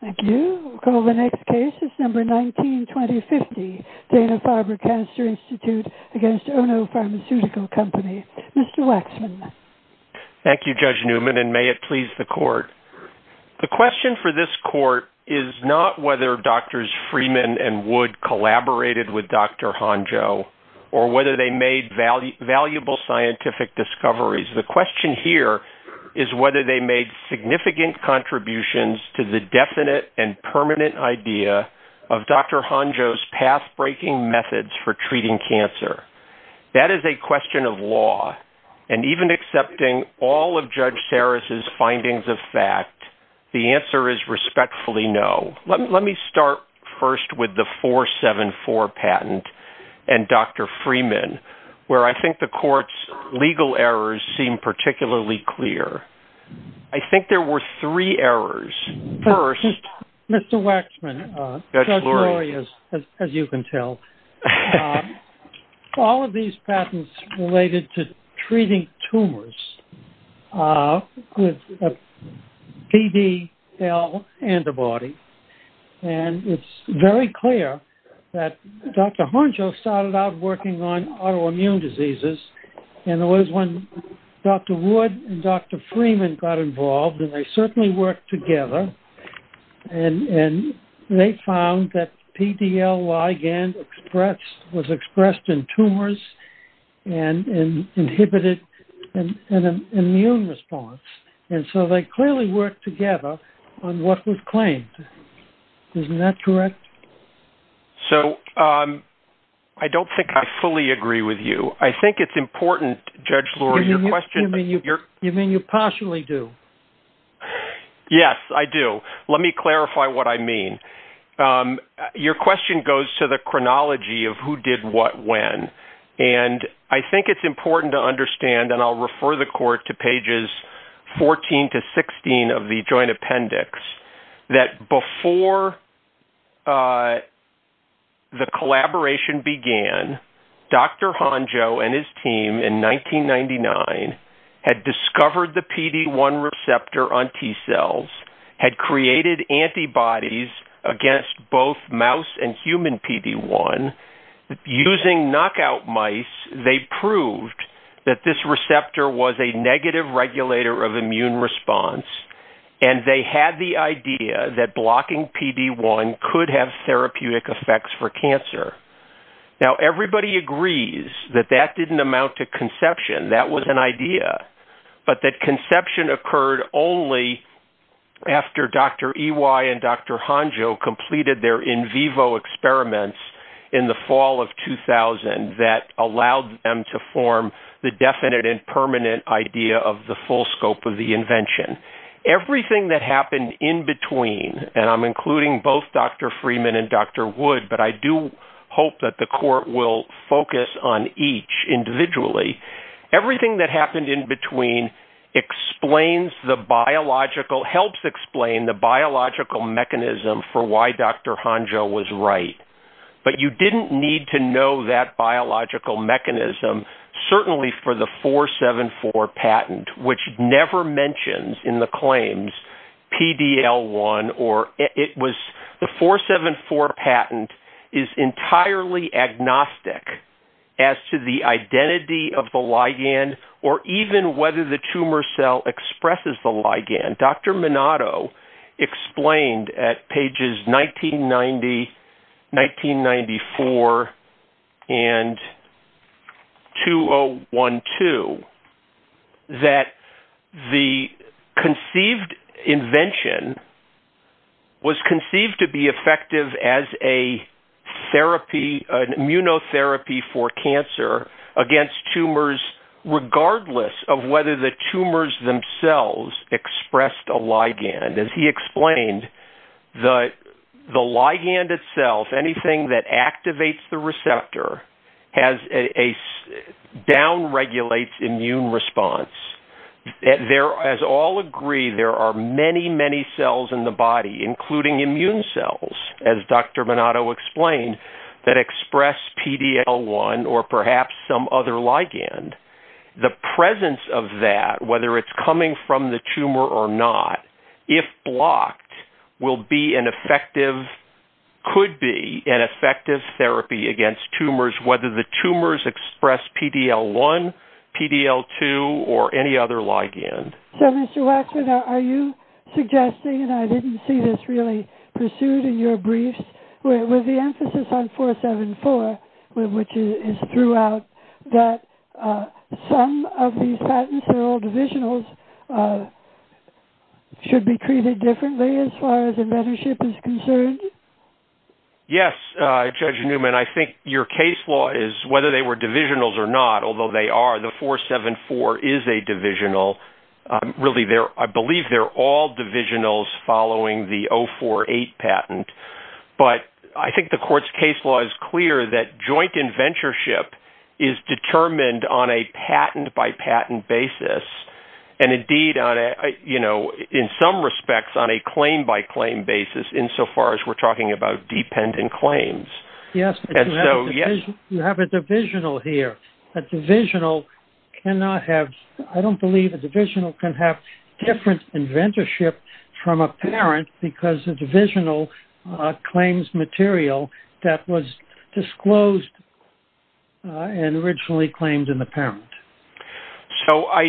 Thank you. We'll call the next case, December 19, 2050. Dana-Farber Cancer Institute v. Ono Pharmaceutical Co., Ltd. Mr. Waxman. Thank you, Judge Newman, and may it please the court. The question for this court is not whether Drs. Freeman and Wood collaborated with Dr. Honjo or whether they made valuable scientific discoveries. The question here is whether they made significant contributions to the definite and permanent idea of Dr. Honjo's path-breaking methods for treating cancer. That is a question of law, and even accepting all of Judge Saris's findings of fact, the answer is respectfully no. Let me start first with the 474 patent and Dr. Freeman, where I think the court's legal errors seem particularly clear. I think there were three errors. First, Judge Lurie. Mr. Waxman, Judge Lurie, as you can tell, all of these patents related to treating tumors with a PDL antibody, and it's very clear that Dr. Honjo started out working on autoimmune diseases, and it was when Dr. Wood and Dr. Freeman worked together, and they found that PDL ligand was expressed in tumors and inhibited an immune response, and so they clearly worked together on what was claimed. Isn't that correct? So, I don't think I fully agree with you. I think it's important, Judge Lurie, you mean you partially do. Yes, I do. Let me clarify what I mean. Your question goes to the chronology of who did what when, and I think it's important to understand, and I'll refer the court to pages 14 to 16 of the joint appendix, that before the collaboration began, Dr. Honjo and his team in 1999 had discovered the PD-1 receptor on T-cells, had created antibodies against both mouse and human PD-1. Using knockout mice, they proved that this receptor was a negative regulator of immune response, and they had the idea that PD-1 could have therapeutic effects for cancer. Now, everybody agrees that that didn't amount to conception. That was an idea, but that conception occurred only after Dr. Ewi and Dr. Honjo completed their in vivo experiments in the fall of 2000 that allowed them to form the definite and permanent idea of the full scope of the invention. Everything that happened in between, and I'm including both Dr. Freeman and Dr. Wood, but I do hope that the court will focus on each individually. Everything that happened in between explains the biological, helps explain the biological mechanism for why Dr. Honjo was right, but you didn't need to know that biological mechanism, certainly for the 474 patent, which never mentions in the claims PD-L1 or it was the 474 patent is entirely agnostic as to the identity of the ligand or even whether the tumor cell expresses the ligand. Dr. Minato explained at pages 1990, 1994, and 2012 that the conceived invention was conceived to be effective as an immunotherapy for cancer against tumors, regardless of whether the tumors themselves expressed a ligand. As he explained, the ligand itself, anything that activates the receptor, down-regulates immune response. As all agree, there are many, many cells in the body, including immune cells, as Dr. Minato explained, that express PD-L1 or perhaps some other ligand. The presence of that, whether it's coming from the tumor or not, if blocked, will be an effective, could be an effective therapy against tumors, whether the tumors express PD-L1, PD-L2, or any other ligand. So, Mr. Waxman, are you suggesting, and I didn't see this really pursued in your briefs, with the emphasis on 474, which is throughout, that some of these patents are all divisionals, should be treated differently as far as inventorship is concerned? Yes, Judge Newman, I think your case law is, whether they were divisionals or not, the 474 is a divisional. I believe they're all divisionals following the 048 patent, but I think the court's case law is clear that joint inventorship is determined on a patent-by-patent basis, and indeed, in some respects, on a claim-by-claim basis, insofar as we're talking about dependent claims. Yes, you have a divisional here. A divisional cannot have, I don't believe a divisional can have different inventorship from a parent because a divisional claims material that was disclosed and originally claimed in the parent. So, I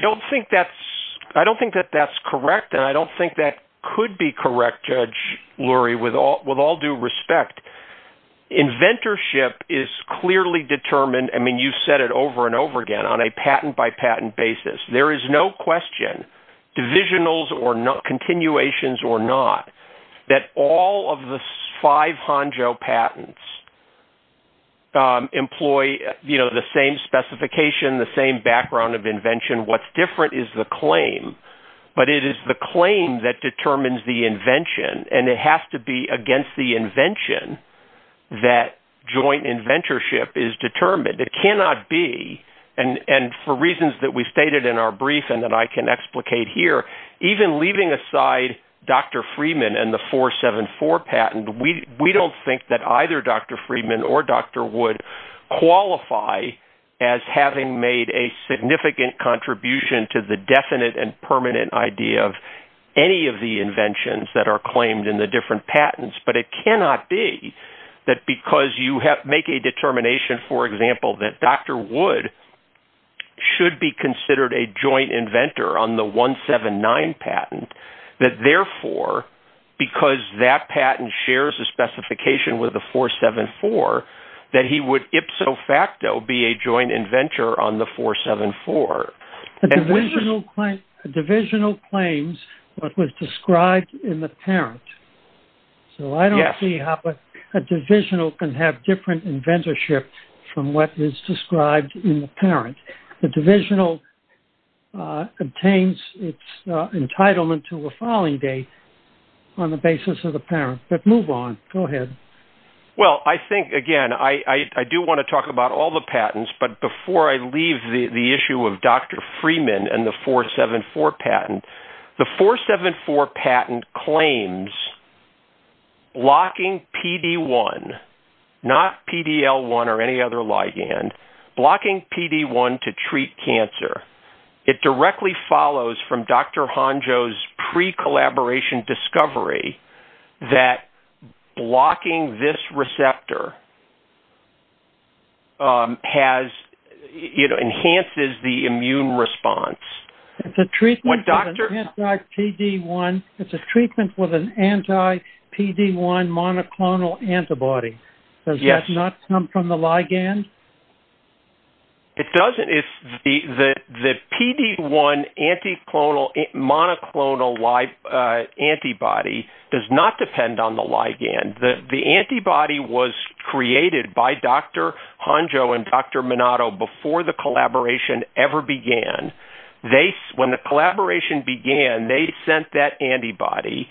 don't think that's, I don't think that that's correct, and I don't think that could be correct, Judge Lurie, with all due respect. Inventorship is clearly determined, I mean, you said it over and over again, on a patent-by-patent basis. There is no question, divisionals or not, continuations or not, that all of the five HANJO patents employ the same specification, the same background of invention. What's different is the claim, but it is the claim that determines the invention, and it has to be against the invention that joint inventorship is determined. It cannot be, and for reasons that we stated in our brief and that I can explicate here, even leaving aside Dr. Freeman and the 474 patent, we don't think that either Dr. Freeman or Dr. Wood qualify as having made a significant contribution to the definite and permanent idea of any of the inventions that are claimed in the different patents, but it cannot be that because you make a determination, for example, that Dr. Wood should be considered a joint inventor on the 179 patent, that therefore, because that patent shares a specification with the 474, that he would ipso facto be a joint inventor on the 474. The divisional claims what was described in the parent, so I don't see how a divisional can have different inventorship from what is described in the parent. The divisional obtains its entitlement to a filing date on the basis of the parent, but move on, go ahead. Well, I think, again, I do want to talk about all the patents, but before I leave the issue of Dr. Freeman and the 474 patent, the 474 patent claims blocking PD-1, not PD-L1 or any other ligand, blocking PD-1 to treat cancer, it directly follows from Dr. Honjo's pre-collaboration discovery that blocking this receptor enhances the immune response. It's a treatment with an anti-PD-1 monoclonal antibody. Does that not come from the ligand? It doesn't. The PD-1 monoclonal antibody does not depend on the ligand. The antibody was created by Dr. Honjo and Dr. Minato before the collaboration ever began. When the collaboration began, they sent that antibody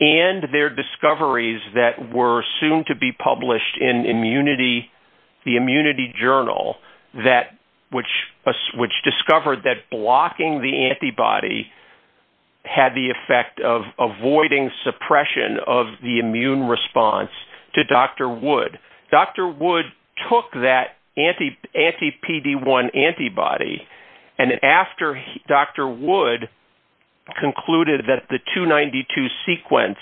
and their discoveries that were soon to be published in the Immunity Journal, which discovered that blocking the antibody had the effect of avoiding suppression of the immune response to Dr. Wood. Dr. Wood took that anti-PD-1 antibody, and after Dr. Wood concluded that the 292 sequence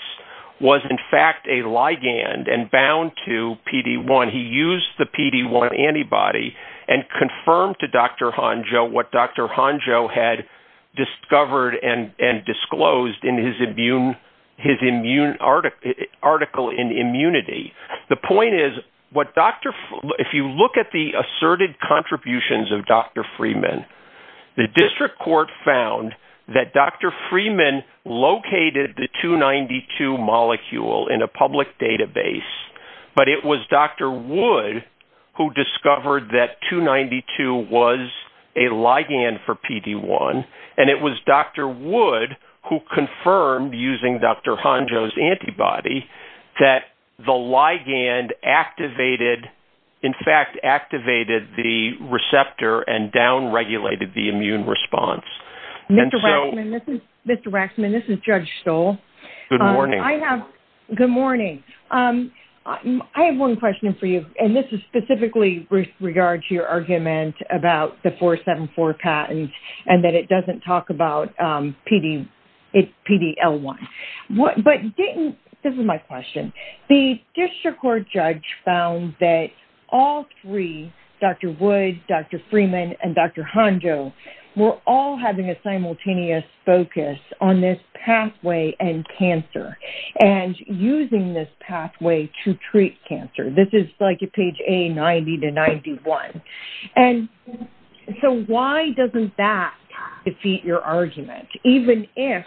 was in fact a ligand and bound to PD-1, he used the PD-1 antibody and confirmed to Dr. Honjo what Dr. Honjo had discovered and disclosed in his article in Immunity. The point is, if you look at the asserted contributions of Dr. Freeman, the district court found that Dr. Freeman located the 292 molecule in a public database, but it was Dr. Wood who discovered that 292 was a ligand for PD-1, and it was Dr. Wood who confirmed using Dr. Honjo's antibody that the ligand in fact activated the receptor and down-regulated the immune response. Mr. Waxman, this is Judge Stoll. Good morning. I have one question for you, and this is specifically with regard to your argument about the 474 patent and that it doesn't talk about PD-L1. But didn't, this is my question, the district court judge found that all three, Dr. Wood, Dr. Freeman, and Dr. Honjo, were all having a simultaneous focus on this pathway and cancer and using this pathway to 91. And so why doesn't that defeat your argument, even if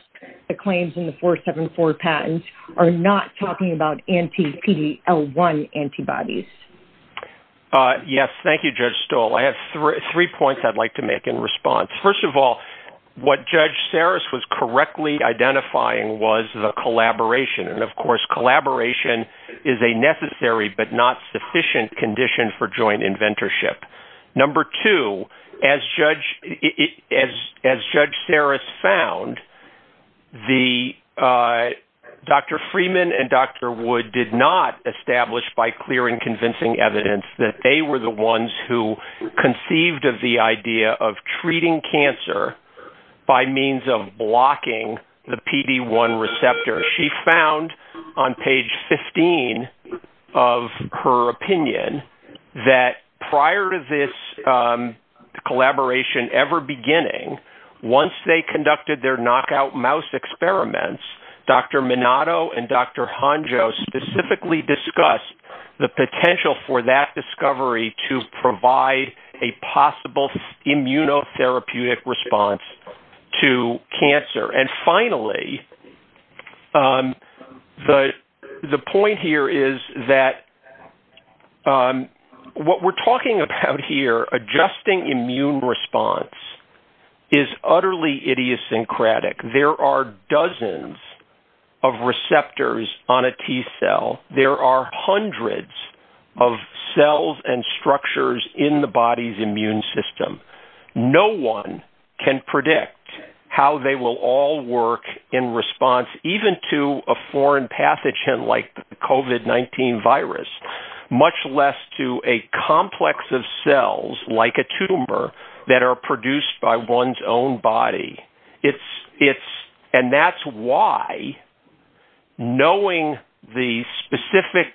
the claims in the 474 patents are not talking about anti-PD-L1 antibodies? Yes, thank you, Judge Stoll. I have three points I'd like to make in response. First of all, what Judge Saris was correctly identifying was the collaboration. And of course, collaboration is a necessary but not sufficient condition for inventorship. Number two, as Judge Saris found, Dr. Freeman and Dr. Wood did not establish by clear and convincing evidence that they were the ones who conceived of the idea of treating cancer by means of blocking the PD-L1 receptor. She found on page 15 of her opinion that prior to this collaboration ever beginning, once they conducted their knockout mouse experiments, Dr. Minato and Dr. Honjo specifically discussed the potential for that discovery to provide a possible immunotherapeutic response to cancer. And finally, the point here is that what we're talking about here, adjusting immune response, is utterly idiosyncratic. There are dozens of receptors on a T cell. There are hundreds of cells and structures in the body's immune system. No one can predict how they will all work in response even to a foreign pathogen like the COVID-19 virus, much less to a complex of cells like a tumor that are produced by one's own body. And that's why knowing the specific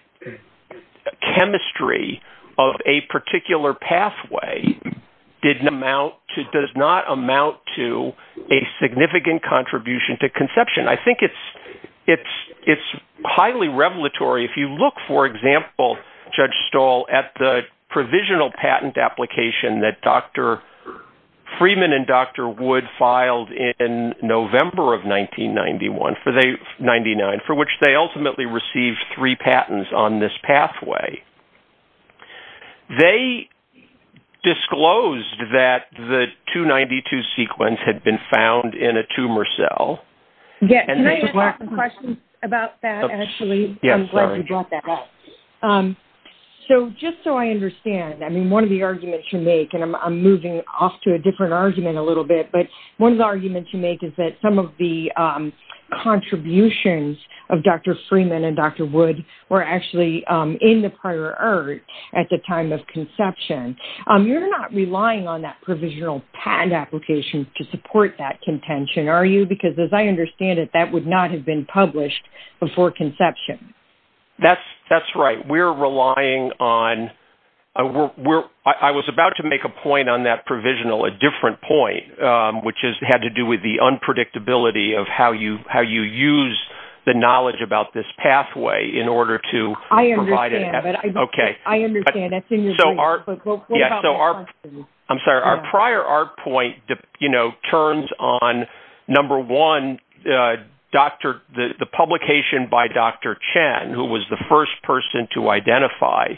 chemistry of a particular pathway does not amount to a significant contribution to conception. I think it's highly revelatory. If you look, for example, Judge Stahl, at the provisional patent application that Dr. Freeman and Dr. Wood filed in November of 1999, for which they ultimately received three patents on this pathway, they disclosed that the 292 sequence had been found in a tumor cell. Can I ask a question about that, actually? Yes. I'm glad you brought that up. So, just so I understand, I mean, one of the arguments you make, and I'm moving off to a different argument a little bit, but one of the arguments you make is that some of the patents that Dr. Freeman and Dr. Wood were actually in the prior art at the time of conception. You're not relying on that provisional patent application to support that contention, are you? Because as I understand it, that would not have been published before conception. That's right. We're relying on... I was about to make a point on that provisional, a different point, which had to do with the unpredictability of how you use the knowledge about this pathway in order to provide... I understand, but... Okay. I understand. That's in your brief, but what about the question? I'm sorry. Our prior art point turns on, number one, the publication by Dr. Chen, who was the first person to identify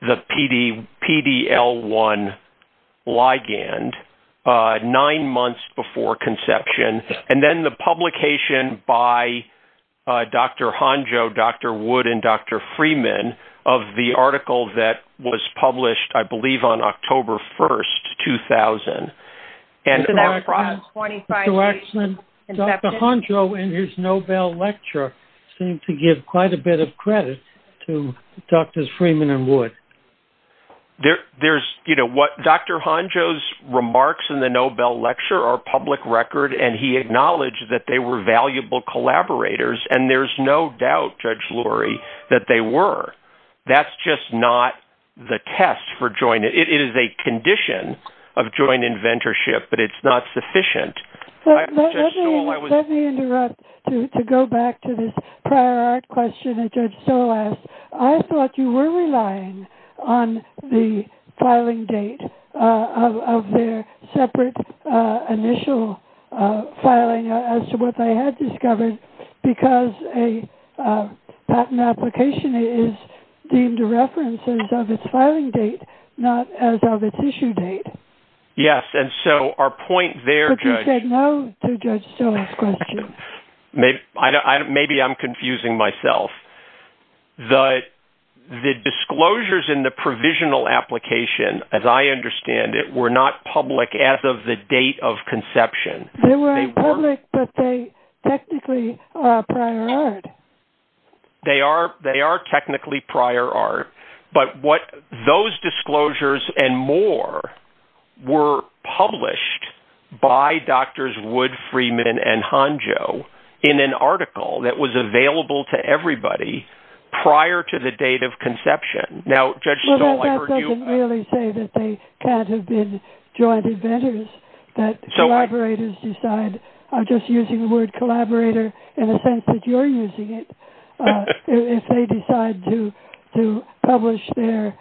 the PDL1 ligand nine months before conception, and then the publication by Dr. Honjo, Dr. Wood, and Dr. Freeman of the article that was published, I believe, on October 1st, 2000. Dr. Honjo, in his Nobel lecture, seemed to give quite a bit of credit to Drs. Freeman and Wood. Dr. Honjo's remarks in the Nobel lecture are public record, and he acknowledged that they were valuable collaborators, and there's no doubt, Judge Lurie, that they were. That's just not the test for joint... It is a condition of joint inventorship, but it's not sufficient. Let me interrupt to go back to this prior art question that Judge Stoll asked. I thought you were relying on the filing date of their separate initial filing as to what they had discovered, because a patent application is deemed a reference as of its filing date, not as of its issue date. Yes, and so our point there, Judge... But you said no to Judge Stoll's question. Maybe I'm confusing myself. The disclosures in the provisional application, as I understand it, were not public as of the date of conception. They weren't public, but they technically are prior art. They are technically prior art, but what those disclosures and more were published by Drs. Wood, Freeman, and Honjo in an article that was available to everybody prior to the date of conception. Now, Judge Stoll, I heard you... Well, that doesn't really say that they can't have been joint inventors, that collaborators decide... I'm just using the word collaborator in a sense that you're using it, if they decide to publish their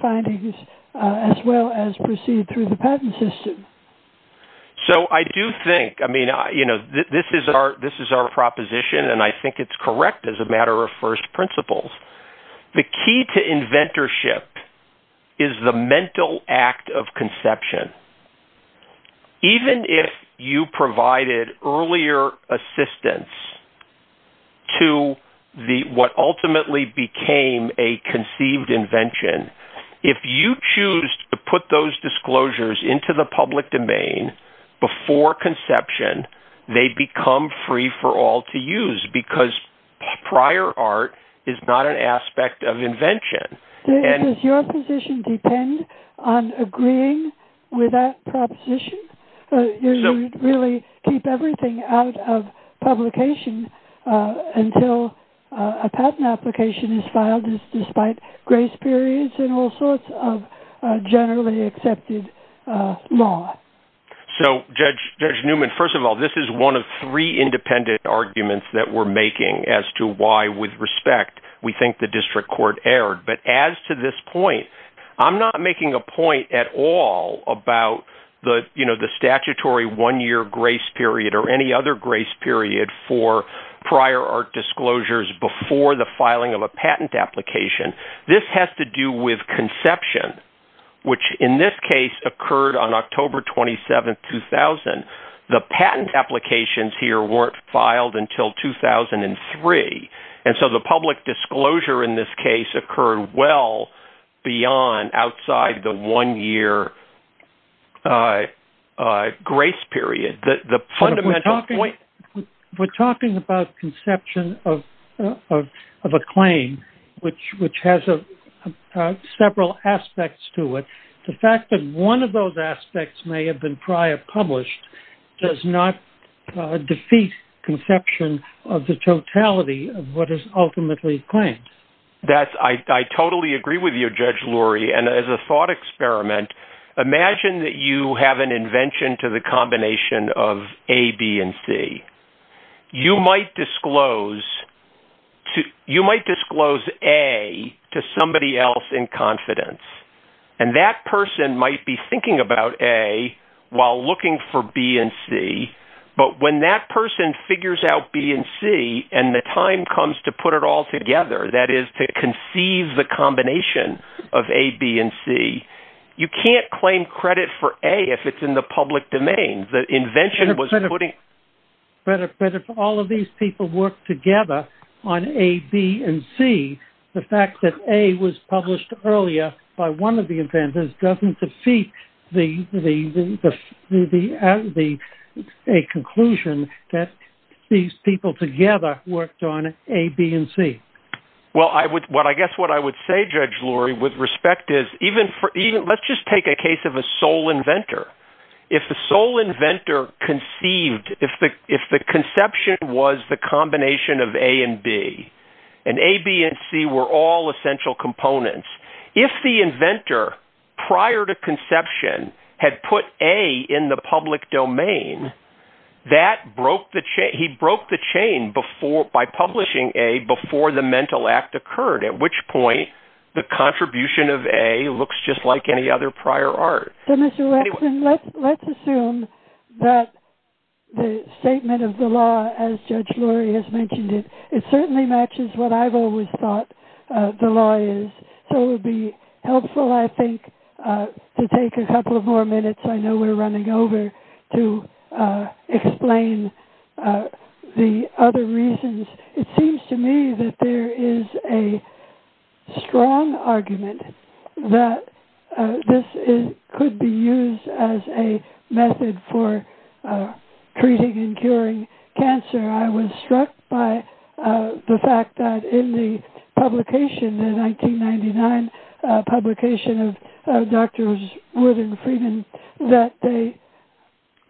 findings as well as proceed through the patent system. So I do think... This is our proposition, and I think it's correct as a matter of first principles. The key to inventorship is the mental act of conception. Even if you provided earlier assistance to what ultimately became a conceived invention, if you choose to put those disclosures into the public domain before conception, they become free for all to use because prior art is not an aspect of invention. Does your position depend on agreeing with that proposition? You really keep everything out of publication until a patent application is filed despite grace periods and all sorts of generally accepted law. So, Judge Newman, first of all, this is one of three independent arguments that we're making as to why, with respect, we think the district court erred. But as to this point, I'm not making a point at all about the statutory one-year grace period or any other grace period for prior art disclosures before the filing of a patent application. This has to do with conception, which in this case occurred on October 27, 2000. The patent applications here weren't filed until 2003. And so the public disclosure in this case occurred well beyond outside the one-year grace period. The fundamental point... We're talking about conception of a claim, which has several aspects to it. The fact that one of those aspects may have been prior published does not defeat conception of the totality of what is ultimately claimed. I totally agree with you, Judge Lurie. And as a thought experiment, imagine that you have an invention to the combination of A, B, and C. You might disclose A to somebody else in confidence, and that person might be thinking about A while looking for B and C. But when that person figures out B and C and the time comes to put it all together, that is to conceive the combination of A, B, and C, you can't claim credit for A if it's in the public domain. But if all of these people work together on A, B, and C, the fact that A was published earlier by one of the inventors doesn't defeat a conclusion that these people together worked on A, B, and C. Well, I guess what I would say, Judge Lurie, with respect is, let's just take a case of a sole inventor. If the conception was the combination of A and B, and A, B, and C were all essential components, if the inventor prior to conception had put A in the public domain, he broke the chain by publishing A before the mental act occurred, at which point the contribution of A looks just like any other prior art. So, Mr. Wexler, let's assume that the statement of the law, as Judge Lurie has mentioned it, it certainly matches what I've always thought the law is. So it would be helpful, I think, to take a couple of more minutes. I know we're running over to explain the other reasons. It seems to me that there is a strong argument that this could be used as a method for treating and curing cancer. I was struck by the fact that in the publication, the 1999 publication of Drs. Wood and Freeman, that they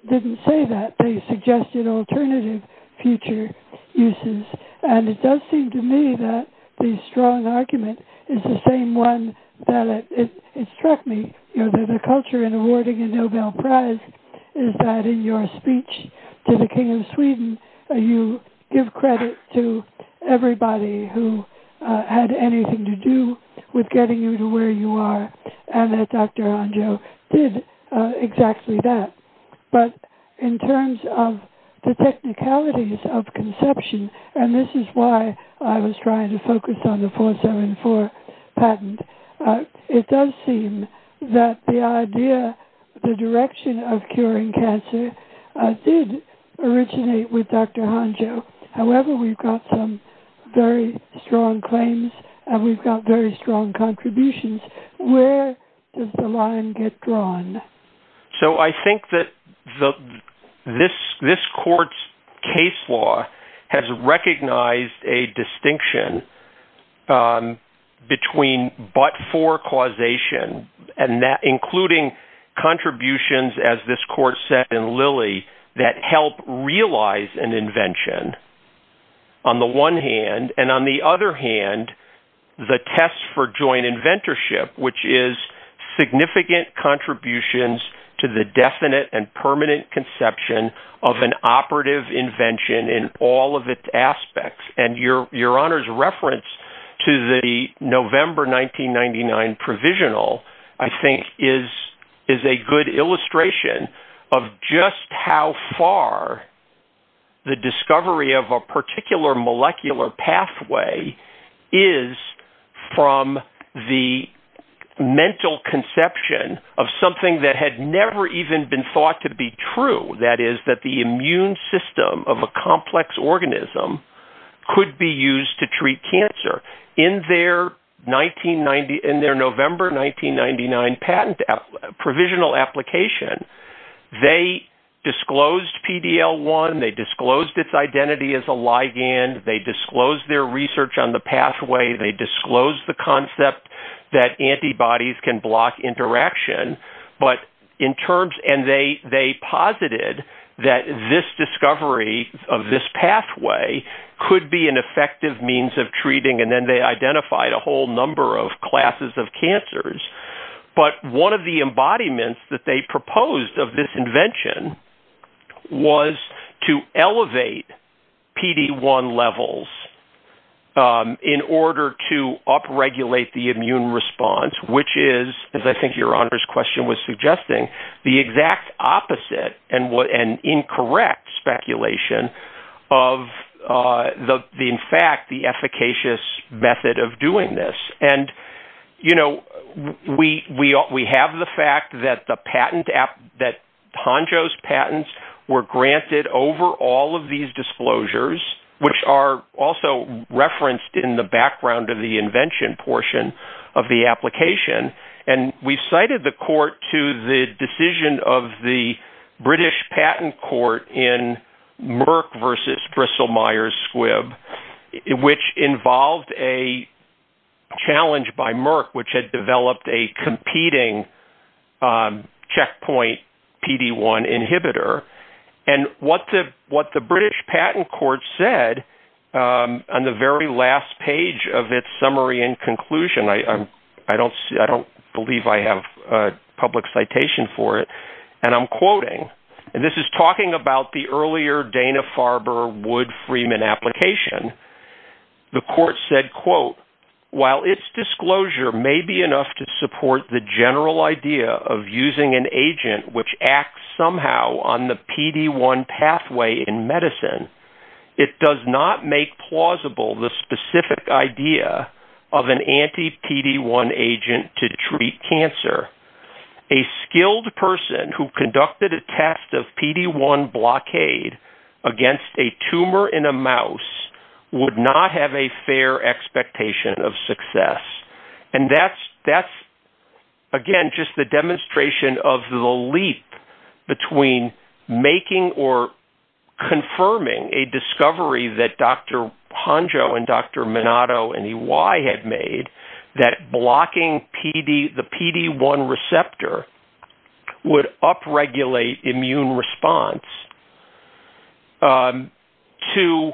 didn't say that. They suggested alternative future uses. And it does seem to me that the strong argument is the same one that it struck me. The culture in awarding a Nobel Prize is that in your speech to the King of Sweden, you give credit to everybody who had anything to do with getting you to where you are, and that Dr. Hanjo, however, we've got some very strong claims and we've got very strong contributions. Where does the line get drawn? So I think that this court's case law has recognized a distinction between but-for causation, including contributions, as this court said in Lilly, that help realize an invention, on the one hand, and on the other hand, the test for joint inventorship, which is significant contributions to the definite and permanent conception of an operative invention in all of its aspects. And Your Honor's reference to the November 1999 provisional, I think, is a good illustration of just how far the discovery of a particular molecular pathway is from the mental conception of something that had never even been thought to be true. That is, that the immune system of a complex organism could be used to treat cancer. In their November 1999 patent provisional application, they disclosed PD-L1, they disclosed its identity as a ligand, they disclosed their research on the pathway, they disclosed the concept that antibodies can block interaction. But in terms, and they posited that this discovery of this pathway could be an effective means of treating, and then they identified a whole number of classes of cancers. But one of the embodiments that they proposed of this invention was to elevate PD-1 levels in order to upregulate the immune response, which is, as I think Your Honor's question was suggesting, the exact opposite and incorrect speculation of the, in fact, the efficacious method of doing this. And we have the fact that the patent app, that Honjo's patents were granted over all of these disclosures, which are also referenced in the background of the invention portion of the application. And we cited the court to the decision of the British Patent Court in Merck versus Bristol-Myers Squibb, which involved a challenge by Merck, which had developed a competing checkpoint PD-1 inhibitor. And what the British Patent Court said on the very last page of its summary and conclusion, I don't believe I have a public citation for it, and I'm quoting, and this is talking about the earlier Dana-Farber-Wood-Freeman application. The court said, quote, while its disclosure may be enough to support the general idea of using an agent which acts somehow on the PD-1 pathway in medicine, it does not make plausible the specific idea of an anti-PD-1 agent to treat cancer. A skilled person who conducted a test of PD-1 blockade against a tumor in a mouse would not have a fair expectation of success. And that's, again, just the demonstration of the leap between making or Hangzhou and Dr. Minato and EY had made that blocking the PD-1 receptor would up-regulate immune response to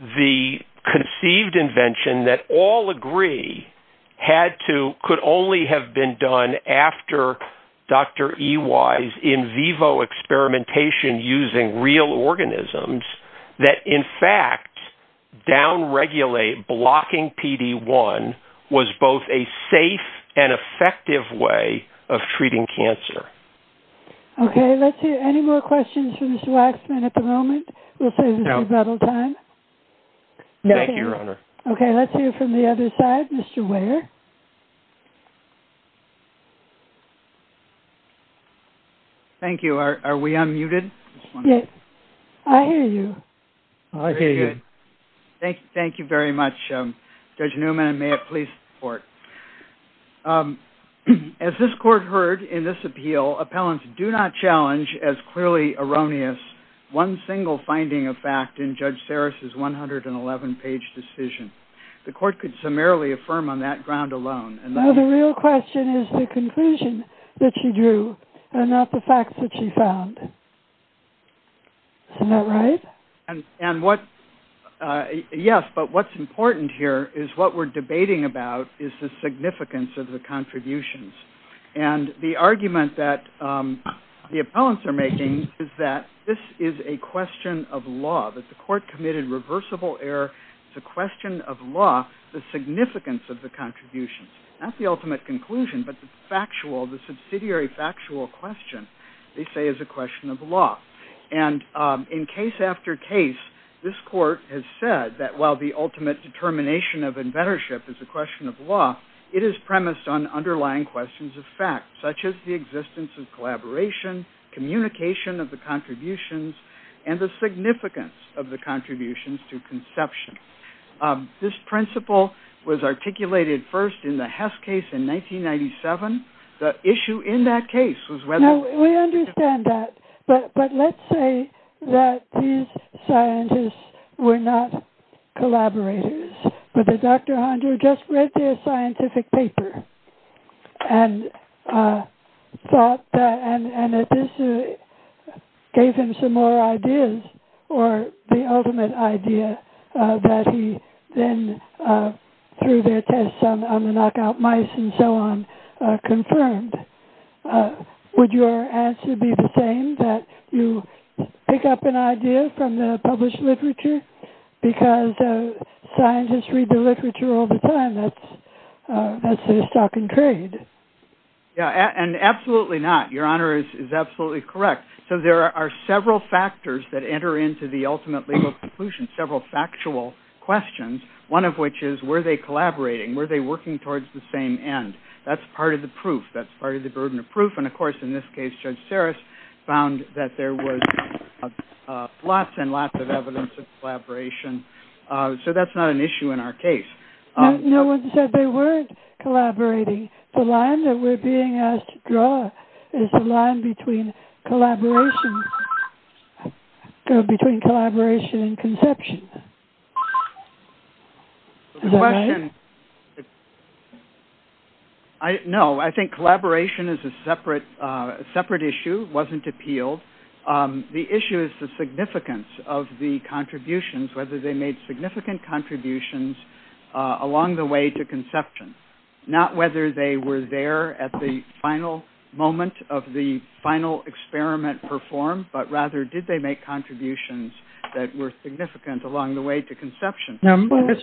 the conceived invention that all agree had to, could only have been done after Dr. EY's in vivo experimentation using real organisms that, in fact, down-regulate blocking PD-1 was both a safe and effective way of treating cancer. Okay, let's hear any more questions from Mr. Waxman at the moment. We'll save us a little time. Thank you, Your Honor. Okay, let's hear from the other side. Mr. Weyer. Thank you. Are we unmuted? Yes. I hear you. I hear you. Thank you very much, Judge Newman, and may it please the Court. As this Court heard in this appeal, appellants do not challenge as clearly erroneous one single finding of fact in Judge Sarris' 111-page decision. The Court could summarily affirm on that ground alone. Well, the real question is the conclusion that she drew and not the facts that she found. Isn't that right? And what, yes, but what's important here is what we're debating about is the significance of the contributions. And the argument that the appellants are making is that this is a question of law, that the Court committed reversible error. It's a question of law, the significance of the contributions, not the ultimate conclusion, but the factual, the subsidiary factual question they say is a question of law. And in case after case, this Court has said that while the ultimate determination of inventorship is a question of law, it is premised on underlying questions of fact, such as the existence of collaboration, communication of the contributions, and the significance of the contributions to conception. This principle was articulated first in the Hess case in 1997. The issue in that case was whether- No, we understand that. But let's say that these scientists were not collaborators, but that Dr. Hondure just read their scientific paper and thought that, and it gave him some more ideas, or the ultimate idea that he then through their tests on the knockout mice and so on, confirmed. Would your answer be the same, that you pick up an idea from the published literature, because scientists read the literature all the time, that's their stock and trade? Yeah, and absolutely not. Your Honor is absolutely correct. So there are several factors that enter into the ultimate legal conclusion, several factual questions, one of which is, were they collaborating? Were they working towards the same end? That's part of the proof. That's part of the burden of proof. And of course, in this case, Judge Sarris found that there was lots and lots of evidence of collaboration. So that's not an issue in our case. No one said they weren't collaborating. The line that we're being asked to draw is the line between collaboration and conception. Is that right? No, I think collaboration is a separate issue, wasn't appealed. The issue is the significance of the contributions, whether they made significant contributions along the way to conception, not whether they were there at the final moment of the final experiment performed, but rather, did they make contributions that were significant along the way to conception? Mr.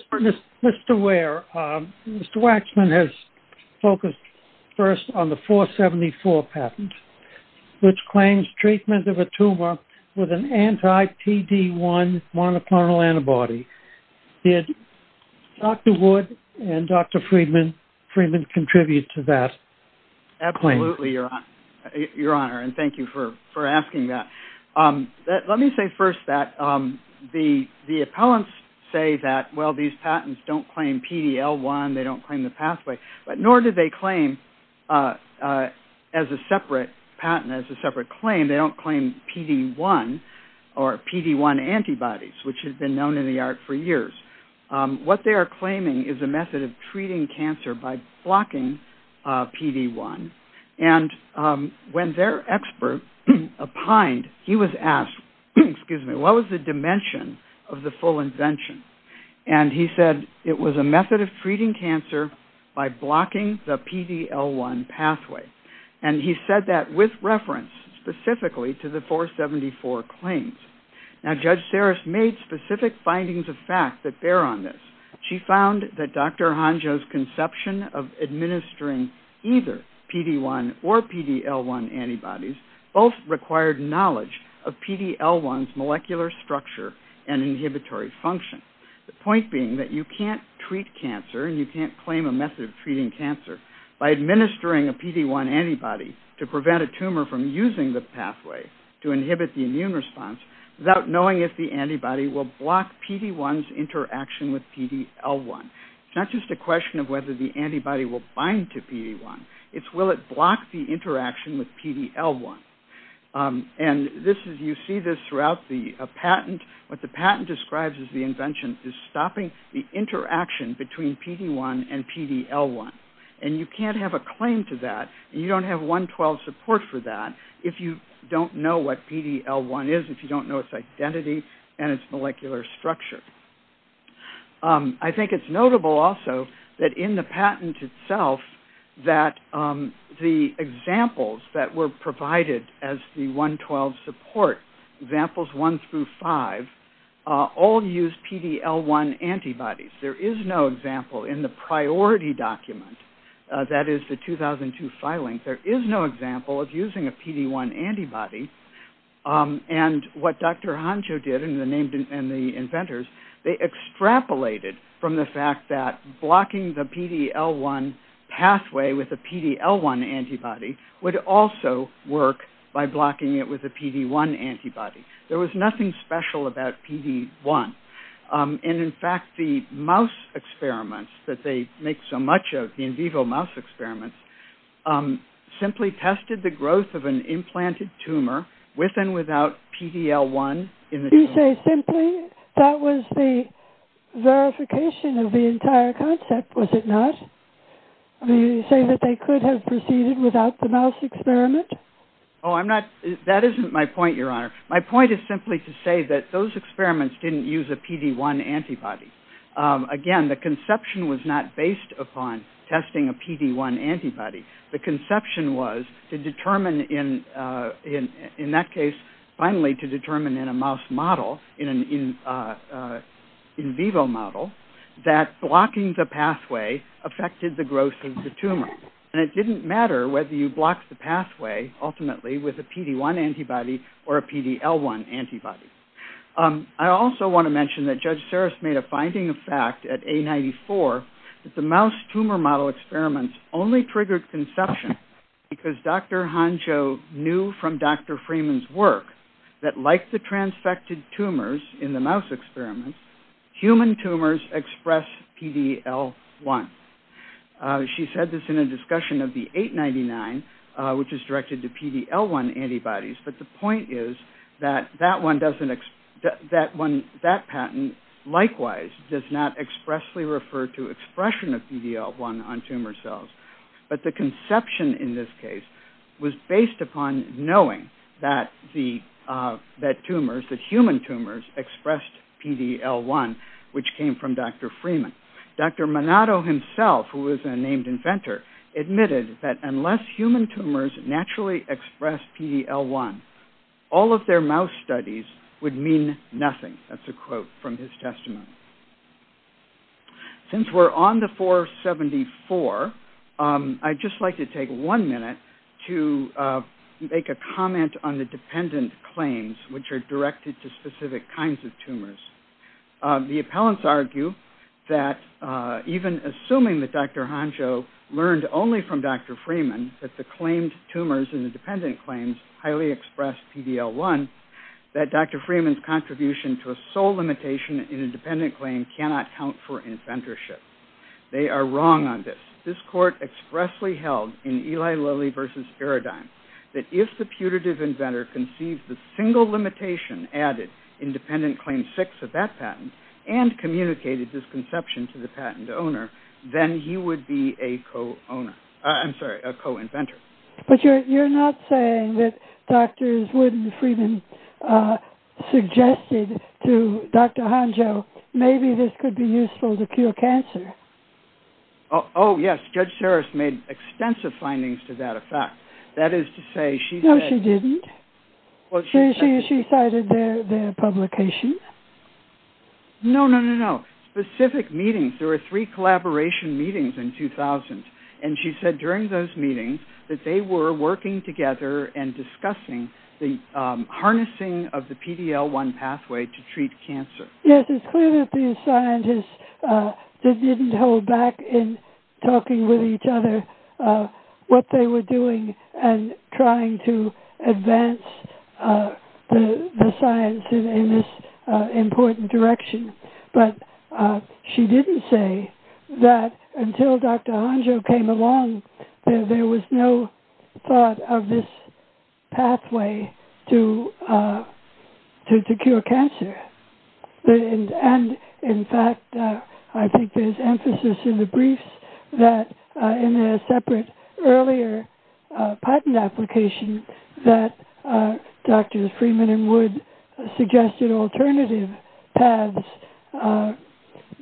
Ware, Mr. Waxman has focused first on the 474 patent, which claims treatment of a tumor with an anti-PD-1 monoclonal antibody. Did Dr. Wood and Dr. Friedman contribute to that? Absolutely, Your Honor, and thank you for asking that. Let me say first that the appellants say that, well, these patents don't claim PD-L1, they don't claim the pathway, but nor do they claim as a separate patent, as a separate claim, they don't claim PD-1 or PD-1 antibodies, which has been known in the art for years. What they are claiming is a method of treating cancer by blocking PD-1, and when their expert opined, he was asked, excuse me, what was the dimension of the full invention, and he said it was a method of treating cancer by blocking the PD-L1 pathway, and he said that with reference specifically to the 474 claims. Now, Judge Saris made specific findings of fact that bear on this. She found that Dr. Honjo's conception of administering either PD-1 or PD-L1 antibodies both required knowledge of PD-L1's molecular structure and inhibitory function. The point being that you can't treat cancer, and you can't claim a method of treating cancer by administering a PD-1 antibody to prevent a tumor from using the pathway to inhibit the immune response without knowing if the antibody will block PD-1's interaction with PD-L1. It's not just a question of whether the antibody will bind to PD-1, it's will it block the interaction with PD-L1, and this is, you see this throughout the patent. What the patent describes as the invention is stopping the interaction between PD-1 and PD-L1, and you can't have a claim to that, and you don't have 112 support for that if you don't know what PD-L1 is, if you don't know its identity and its molecular structure. I think it's notable also that in the patent itself that the examples that were provided as the 112 support, examples one through five, all use PD-L1 antibodies. There is no example in the priority document, that is the 2002 filing, there is no example of using a PD-1 antibody, and what Dr. Honjo did and the inventors, they extrapolated from the fact that blocking the PD-L1 pathway with a PD-L1 antibody would also work by blocking it with a PD-1 antibody. There was nothing special about PD-1, and in fact the mouse experiments that they make so much of, the in vivo mouse experiments, um, simply tested the growth of an implanted tumor with and without PD-L1 in the tumor. You say simply? That was the verification of the entire concept, was it not? I mean, you say that they could have proceeded without the mouse experiment? Oh, I'm not, that isn't my point, your honor. My point is simply to say that those experiments didn't use a PD-1 antibody. Again, the conception was not based upon testing a PD-1 antibody. The conception was to determine in that case, finally to determine in a mouse model, in an in vivo model, that blocking the pathway affected the growth of the tumor, and it didn't matter whether you blocked the pathway ultimately with a PD-1 antibody or a PD-1 antibody. I also want to mention that Judge Saris made a finding of fact at A94 that the mouse tumor model experiments only triggered conception because Dr. Honcho knew from Dr. Freeman's work that like the transfected tumors in the mouse experiments, human tumors express PD-L1. She said this in a discussion of the 899, which is directed to that patent, likewise does not expressly refer to expression of PD-L1 on tumor cells, but the conception in this case was based upon knowing that the tumors, that human tumors expressed PD-L1, which came from Dr. Freeman. Dr. Monado himself, who was a named inventor, admitted that unless human tumors naturally expressed PD-L1, all of their mouse studies would mean nothing. That's a quote from his testimony. Since we're on the 474, I'd just like to take one minute to make a comment on the dependent claims, which are directed to specific kinds of tumors. The appellants argue that even assuming that Dr. Honcho learned only from Dr. Freeman that the claimed tumors in the dependent claims highly expressed PD-L1, that Dr. Freeman's contribution to a sole limitation in a dependent claim cannot count for inventorship. They are wrong on this. This court expressly held in Eli Lilly versus Paradigm that if the putative inventor conceived the single limitation added in dependent claim six of that patent and communicated this conception to the patent owner, then he would be a co-owner. I'm sorry, a co-inventor. But you're not saying that Drs. Wood and Freeman suggested to Dr. Honcho, maybe this could be useful to cure cancer? Oh, yes. Judge Sarris made extensive findings to that effect. That is to say, she said... No, she didn't. She cited their publication. No, no, no, no. Specific meetings. There were three collaboration meetings in 2000, and she said during those meetings that they were working together and discussing the harnessing of the PD-L1 pathway to treat cancer. Yes, it's clear that these scientists didn't hold back in talking with each other what they were doing and trying to advance the science in this important direction, but she didn't say that until Dr. Honcho came along, there was no thought of this pathway to cure cancer. In fact, I think there's emphasis in the briefs that in a separate earlier patent application that Drs. Freeman and Wood suggested alternative paths,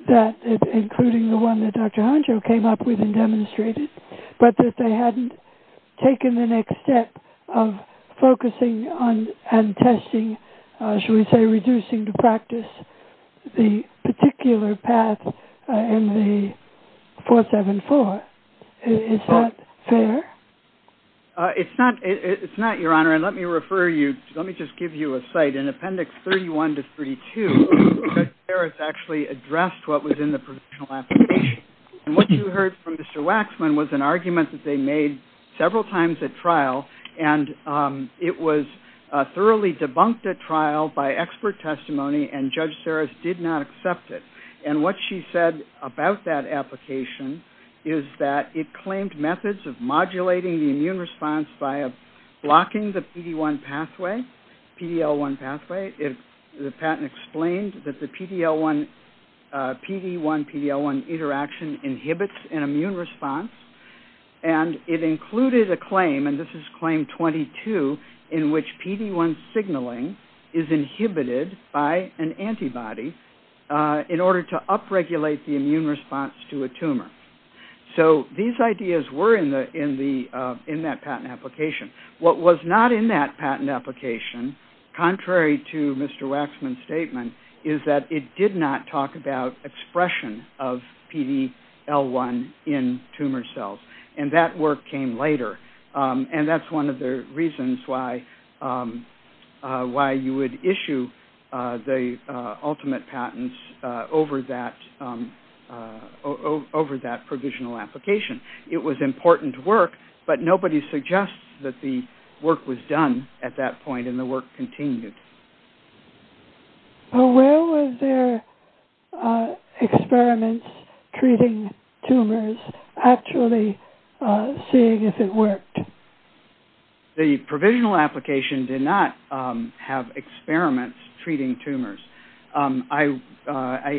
that including the one that Dr. Honcho came up with and demonstrated, but that they hadn't taken the next step of focusing on and testing, shall we say, reducing to practice the particular path in the 474. Is that fair? It's not, Your Honor, and let me refer you, let me just give you a site. In Appendix 31 to 32, Judge Sarris actually addressed what was in the provisional application, and what you heard from Mr. Waxman was an argument that they made several times at trial, and it was thoroughly debunked at trial by expert testimony, and Judge Sarris did not accept it, and what she said about that application is that it claimed methods of modulating the immune response by blocking the PD-1 pathway, PD-L1 pathway. The patent explained that the PD-L1, PD-1, PD-L1 interaction inhibits an immune response, and it included a claim, and this is claim 22, in which PD-1 signaling is inhibited by an antibody in order to upregulate the immune response to a tumor. So these ideas were in that patent application. What was not in that patent application, contrary to Mr. Waxman's statement, is that it did not talk about expression of PD-L1 in tumor cells, and that work came later, and that's one of the reasons why you would issue the ultimate patents over that provisional application. It was important work, but nobody suggests that the work was done at that point, and the work continued. Where was there experiments treating tumors actually seeing if it worked? The provisional application did not have experiments treating tumors. I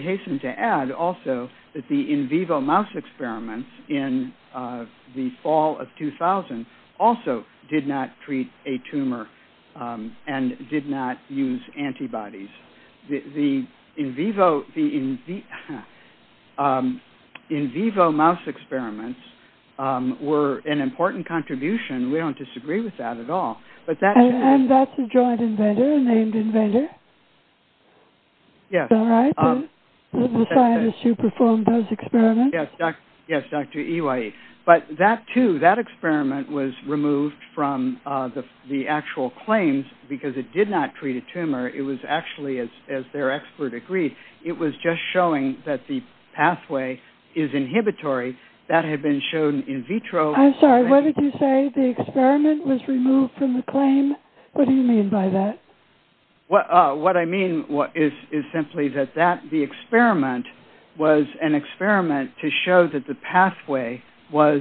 hasten to add also that the in vivo mouse experiments in the fall of 2000 also did not treat a tumor and did not use antibodies. The in vivo mouse experiments were an important contribution. We don't disagree with that at all. And that's a joint inventor, a named inventor? Yes. All right. The scientist who performed those experiments? Yes, Dr. Ewie. But that too, was removed from the actual claims because it did not treat a tumor. It was actually, as their expert agreed, it was just showing that the pathway is inhibitory. That had been shown in vitro. I'm sorry. What did you say? The experiment was removed from the claim? What do you mean by that? What I mean is simply that the experiment was an experiment to show that the pathway was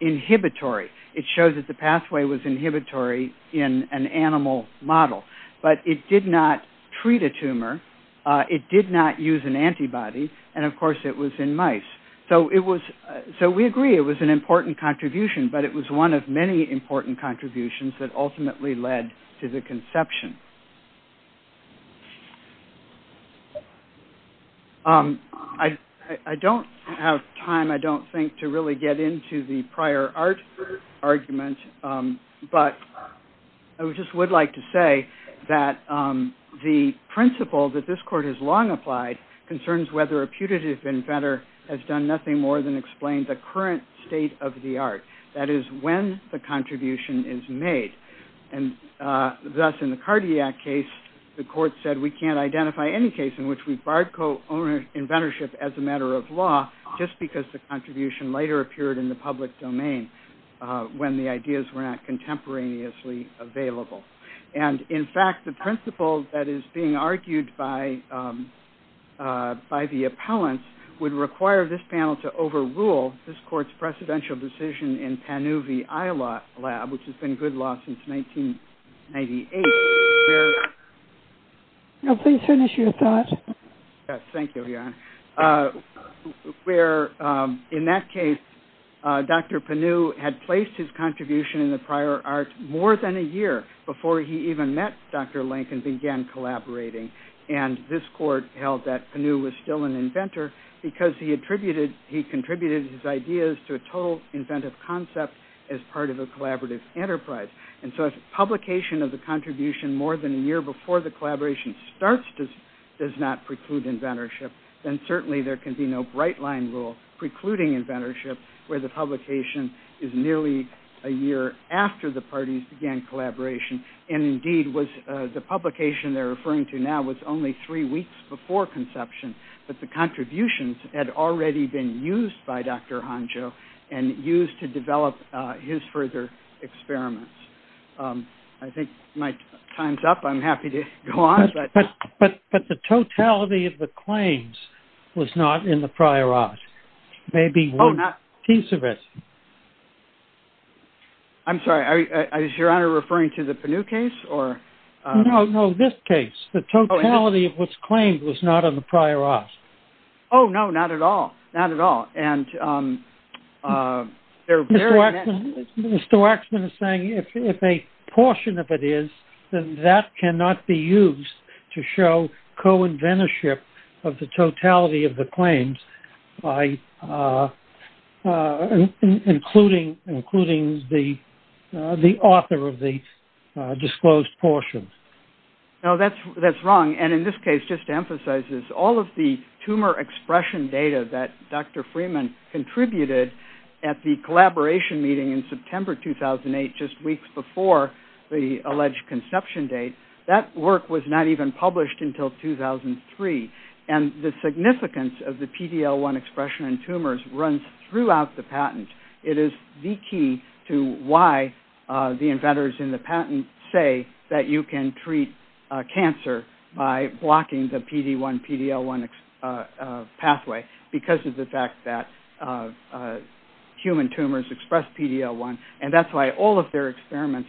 inhibitory. It showed that the pathway was inhibitory in an animal model, but it did not treat a tumor. It did not use an antibody, and of course it was in mice. So we agree it was an important contribution, but it was one of many important contributions that ultimately led to the conception. I don't have time, I don't think, to really get into the prior art argument, but I just would like to say that the principle that this court has long applied concerns whether a putative inventor has done nothing more than explain the current state of the art. That is, when the contribution is made. Thus, in the cardiac case, the court said we can't identify any case in which we barred co-inventorship as a matter of law just because the contribution later appeared in the public domain when the ideas were not contemporaneously available. In fact, the principle that is being argued by the appellants would require this panel to overrule this court's decision in Pannu v. Eyelott Lab, which has been good law since 1998. In that case, Dr. Pannu had placed his contribution in the prior art more than a year before he even met Dr. Lincoln and began collaborating. This court held that Pannu was still an inventor because he contributed his ideas to a total inventive concept as part of a collaborative enterprise. So, if the publication of the contribution more than a year before the collaboration starts does not preclude inventorship, then certainly there can be no bright line rule precluding inventorship where the publication is nearly a year after the parties began collaboration. Indeed, the publication they are referring to now was only three weeks before conception, but the contributions had already been used by Dr. Honjo and used to develop his further experiments. I think my time's up. I'm happy to go on. But the totality of the claims was not in the prior art. Maybe one piece of it. I'm sorry. Is your honor referring to the Pannu case? No, no, this case. The totality of what's claimed was not in the prior art. Oh, no, not at all. Not at all. Mr. Waxman is saying if a portion of it is, then that cannot be used to show co-inventorship of the totality of the claims by the authors, including the author of the disclosed portions. No, that's wrong. And in this case, just to emphasize this, all of the tumor expression data that Dr. Freeman contributed at the collaboration meeting in September 2008, just weeks before the alleged conception date, that work was not even published until 2003. And the significance of the PD-L1 expression in tumors runs throughout the patent. It is the key to why the inventors in the patent say that you can treat cancer by blocking the PD-1, PD-L1 pathway, because of the fact that human tumors express PD-L1. And that's why all of their invention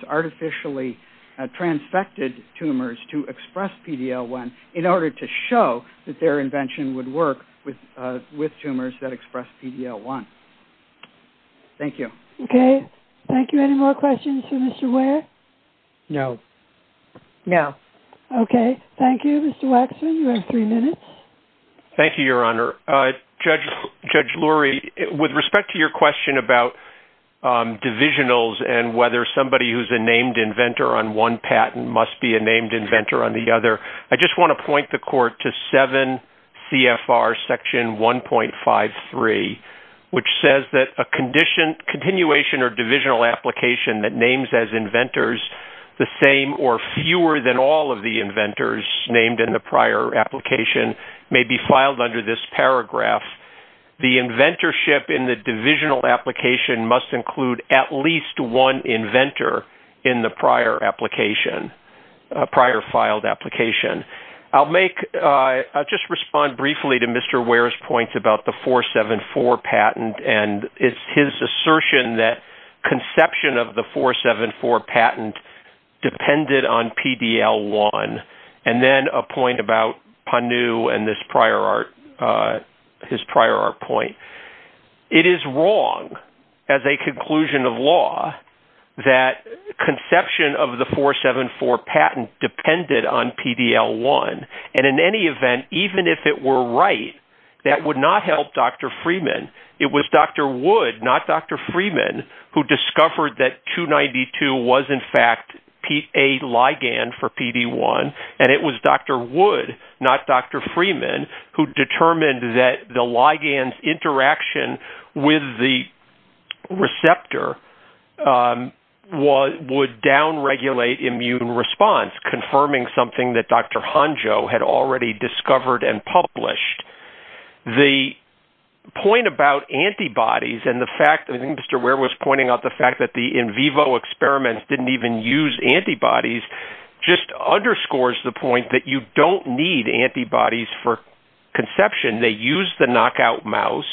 would work with tumors that express PD-L1. Thank you. Okay. Thank you. Any more questions for Mr. Ware? No. No. Okay. Thank you, Mr. Waxman. You have three minutes. Thank you, Your Honor. Judge Lurie, with respect to your question about divisionals and whether somebody who's a named inventor on one patent must be a named inventor on the other, I just want to point the court to 7 CFR section 1.53, which says that a continuation or divisional application that names as inventors the same or fewer than all of the inventors named in the prior application may be filed under this paragraph. The inventorship in the application. I'll just respond briefly to Mr. Ware's point about the 474 patent and his assertion that conception of the 474 patent depended on PD-L1, and then a point about Panu and his prior point. It is wrong as a conclusion of law that conception of the 474 patent depended on PD-L1. And in any event, even if it were right, that would not help Dr. Freeman. It was Dr. Wood, not Dr. Freeman, who discovered that 292 was, in fact, a ligand for PD-1. And it was Dr. Wood, not Dr. Freeman, who determined that the ligand's interaction with the receptor would downregulate immune response, confirming something that Dr. Honjo had already discovered and published. The point about antibodies and the fact that Mr. Ware was pointing out the fact that in vivo experiments didn't even use antibodies just underscores the point that you don't need antibodies for conception. They use the knockout mouse.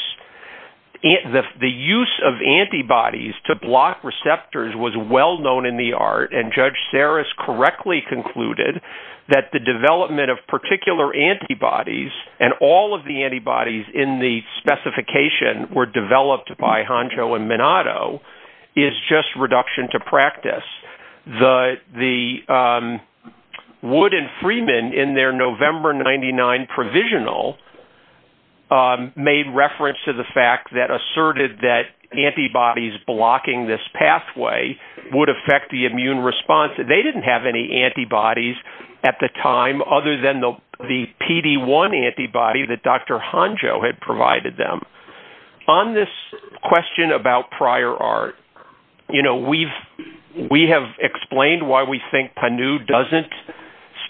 The use of antibodies to block receptors was well known in the art, and Judge Sarris correctly concluded that the development of particular antibodies and all of the antibodies in the specification were developed by Honjo and reduction to practice. Wood and Freeman, in their November 1999 provisional, made reference to the fact that asserted that antibodies blocking this pathway would affect the immune response. They didn't have any antibodies at the time other than the PD-1 antibody that Dr. Honjo had provided them. On this question about prior art, we have explained why we think Panu doesn't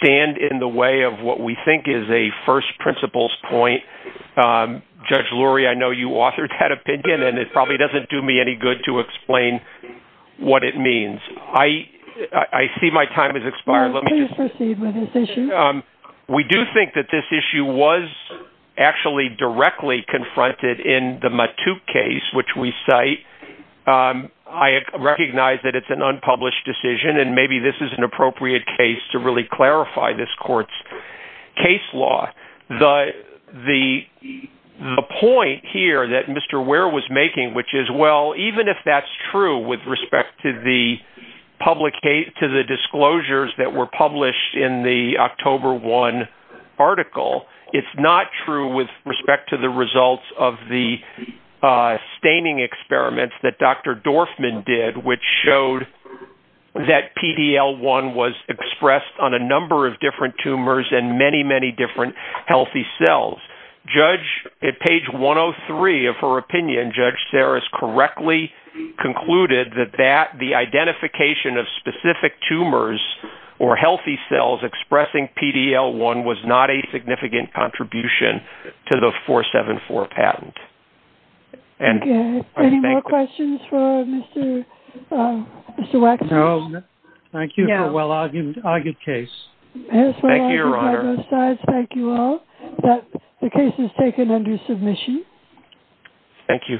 stand in the way of what we think is a first principles point. Judge Lurie, I know you authored that opinion, and it probably doesn't do me any good to explain what it means. I see my time has expired. Let me just proceed with this issue. We do think that this issue was actually directly confronted in the Matute case, which we cite. I recognize that it's an unpublished decision, and maybe this is an appropriate case to really clarify this court's case law. The point here that Mr. Ware was making, which is, well, in the October 1 article, it's not true with respect to the results of the staining experiments that Dr. Dorfman did, which showed that PD-L1 was expressed on a number of different tumors and many, many different healthy cells. Judge, at page 103 of her opinion, Judge Sarris correctly concluded that the identification of specific tumors or healthy cells expressing PD-L1 was not a significant contribution to the 474 patent. Any more questions for Mr. Waxman? No. Thank you for a well-argued case. Thank you, Your Honor. Thank you all. The case is taken under submission. Thank you.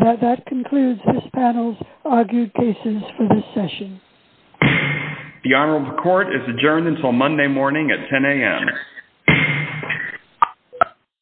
That concludes this panel's argued cases for this session. The Honorable Court is adjourned until Monday morning at 10 a.m.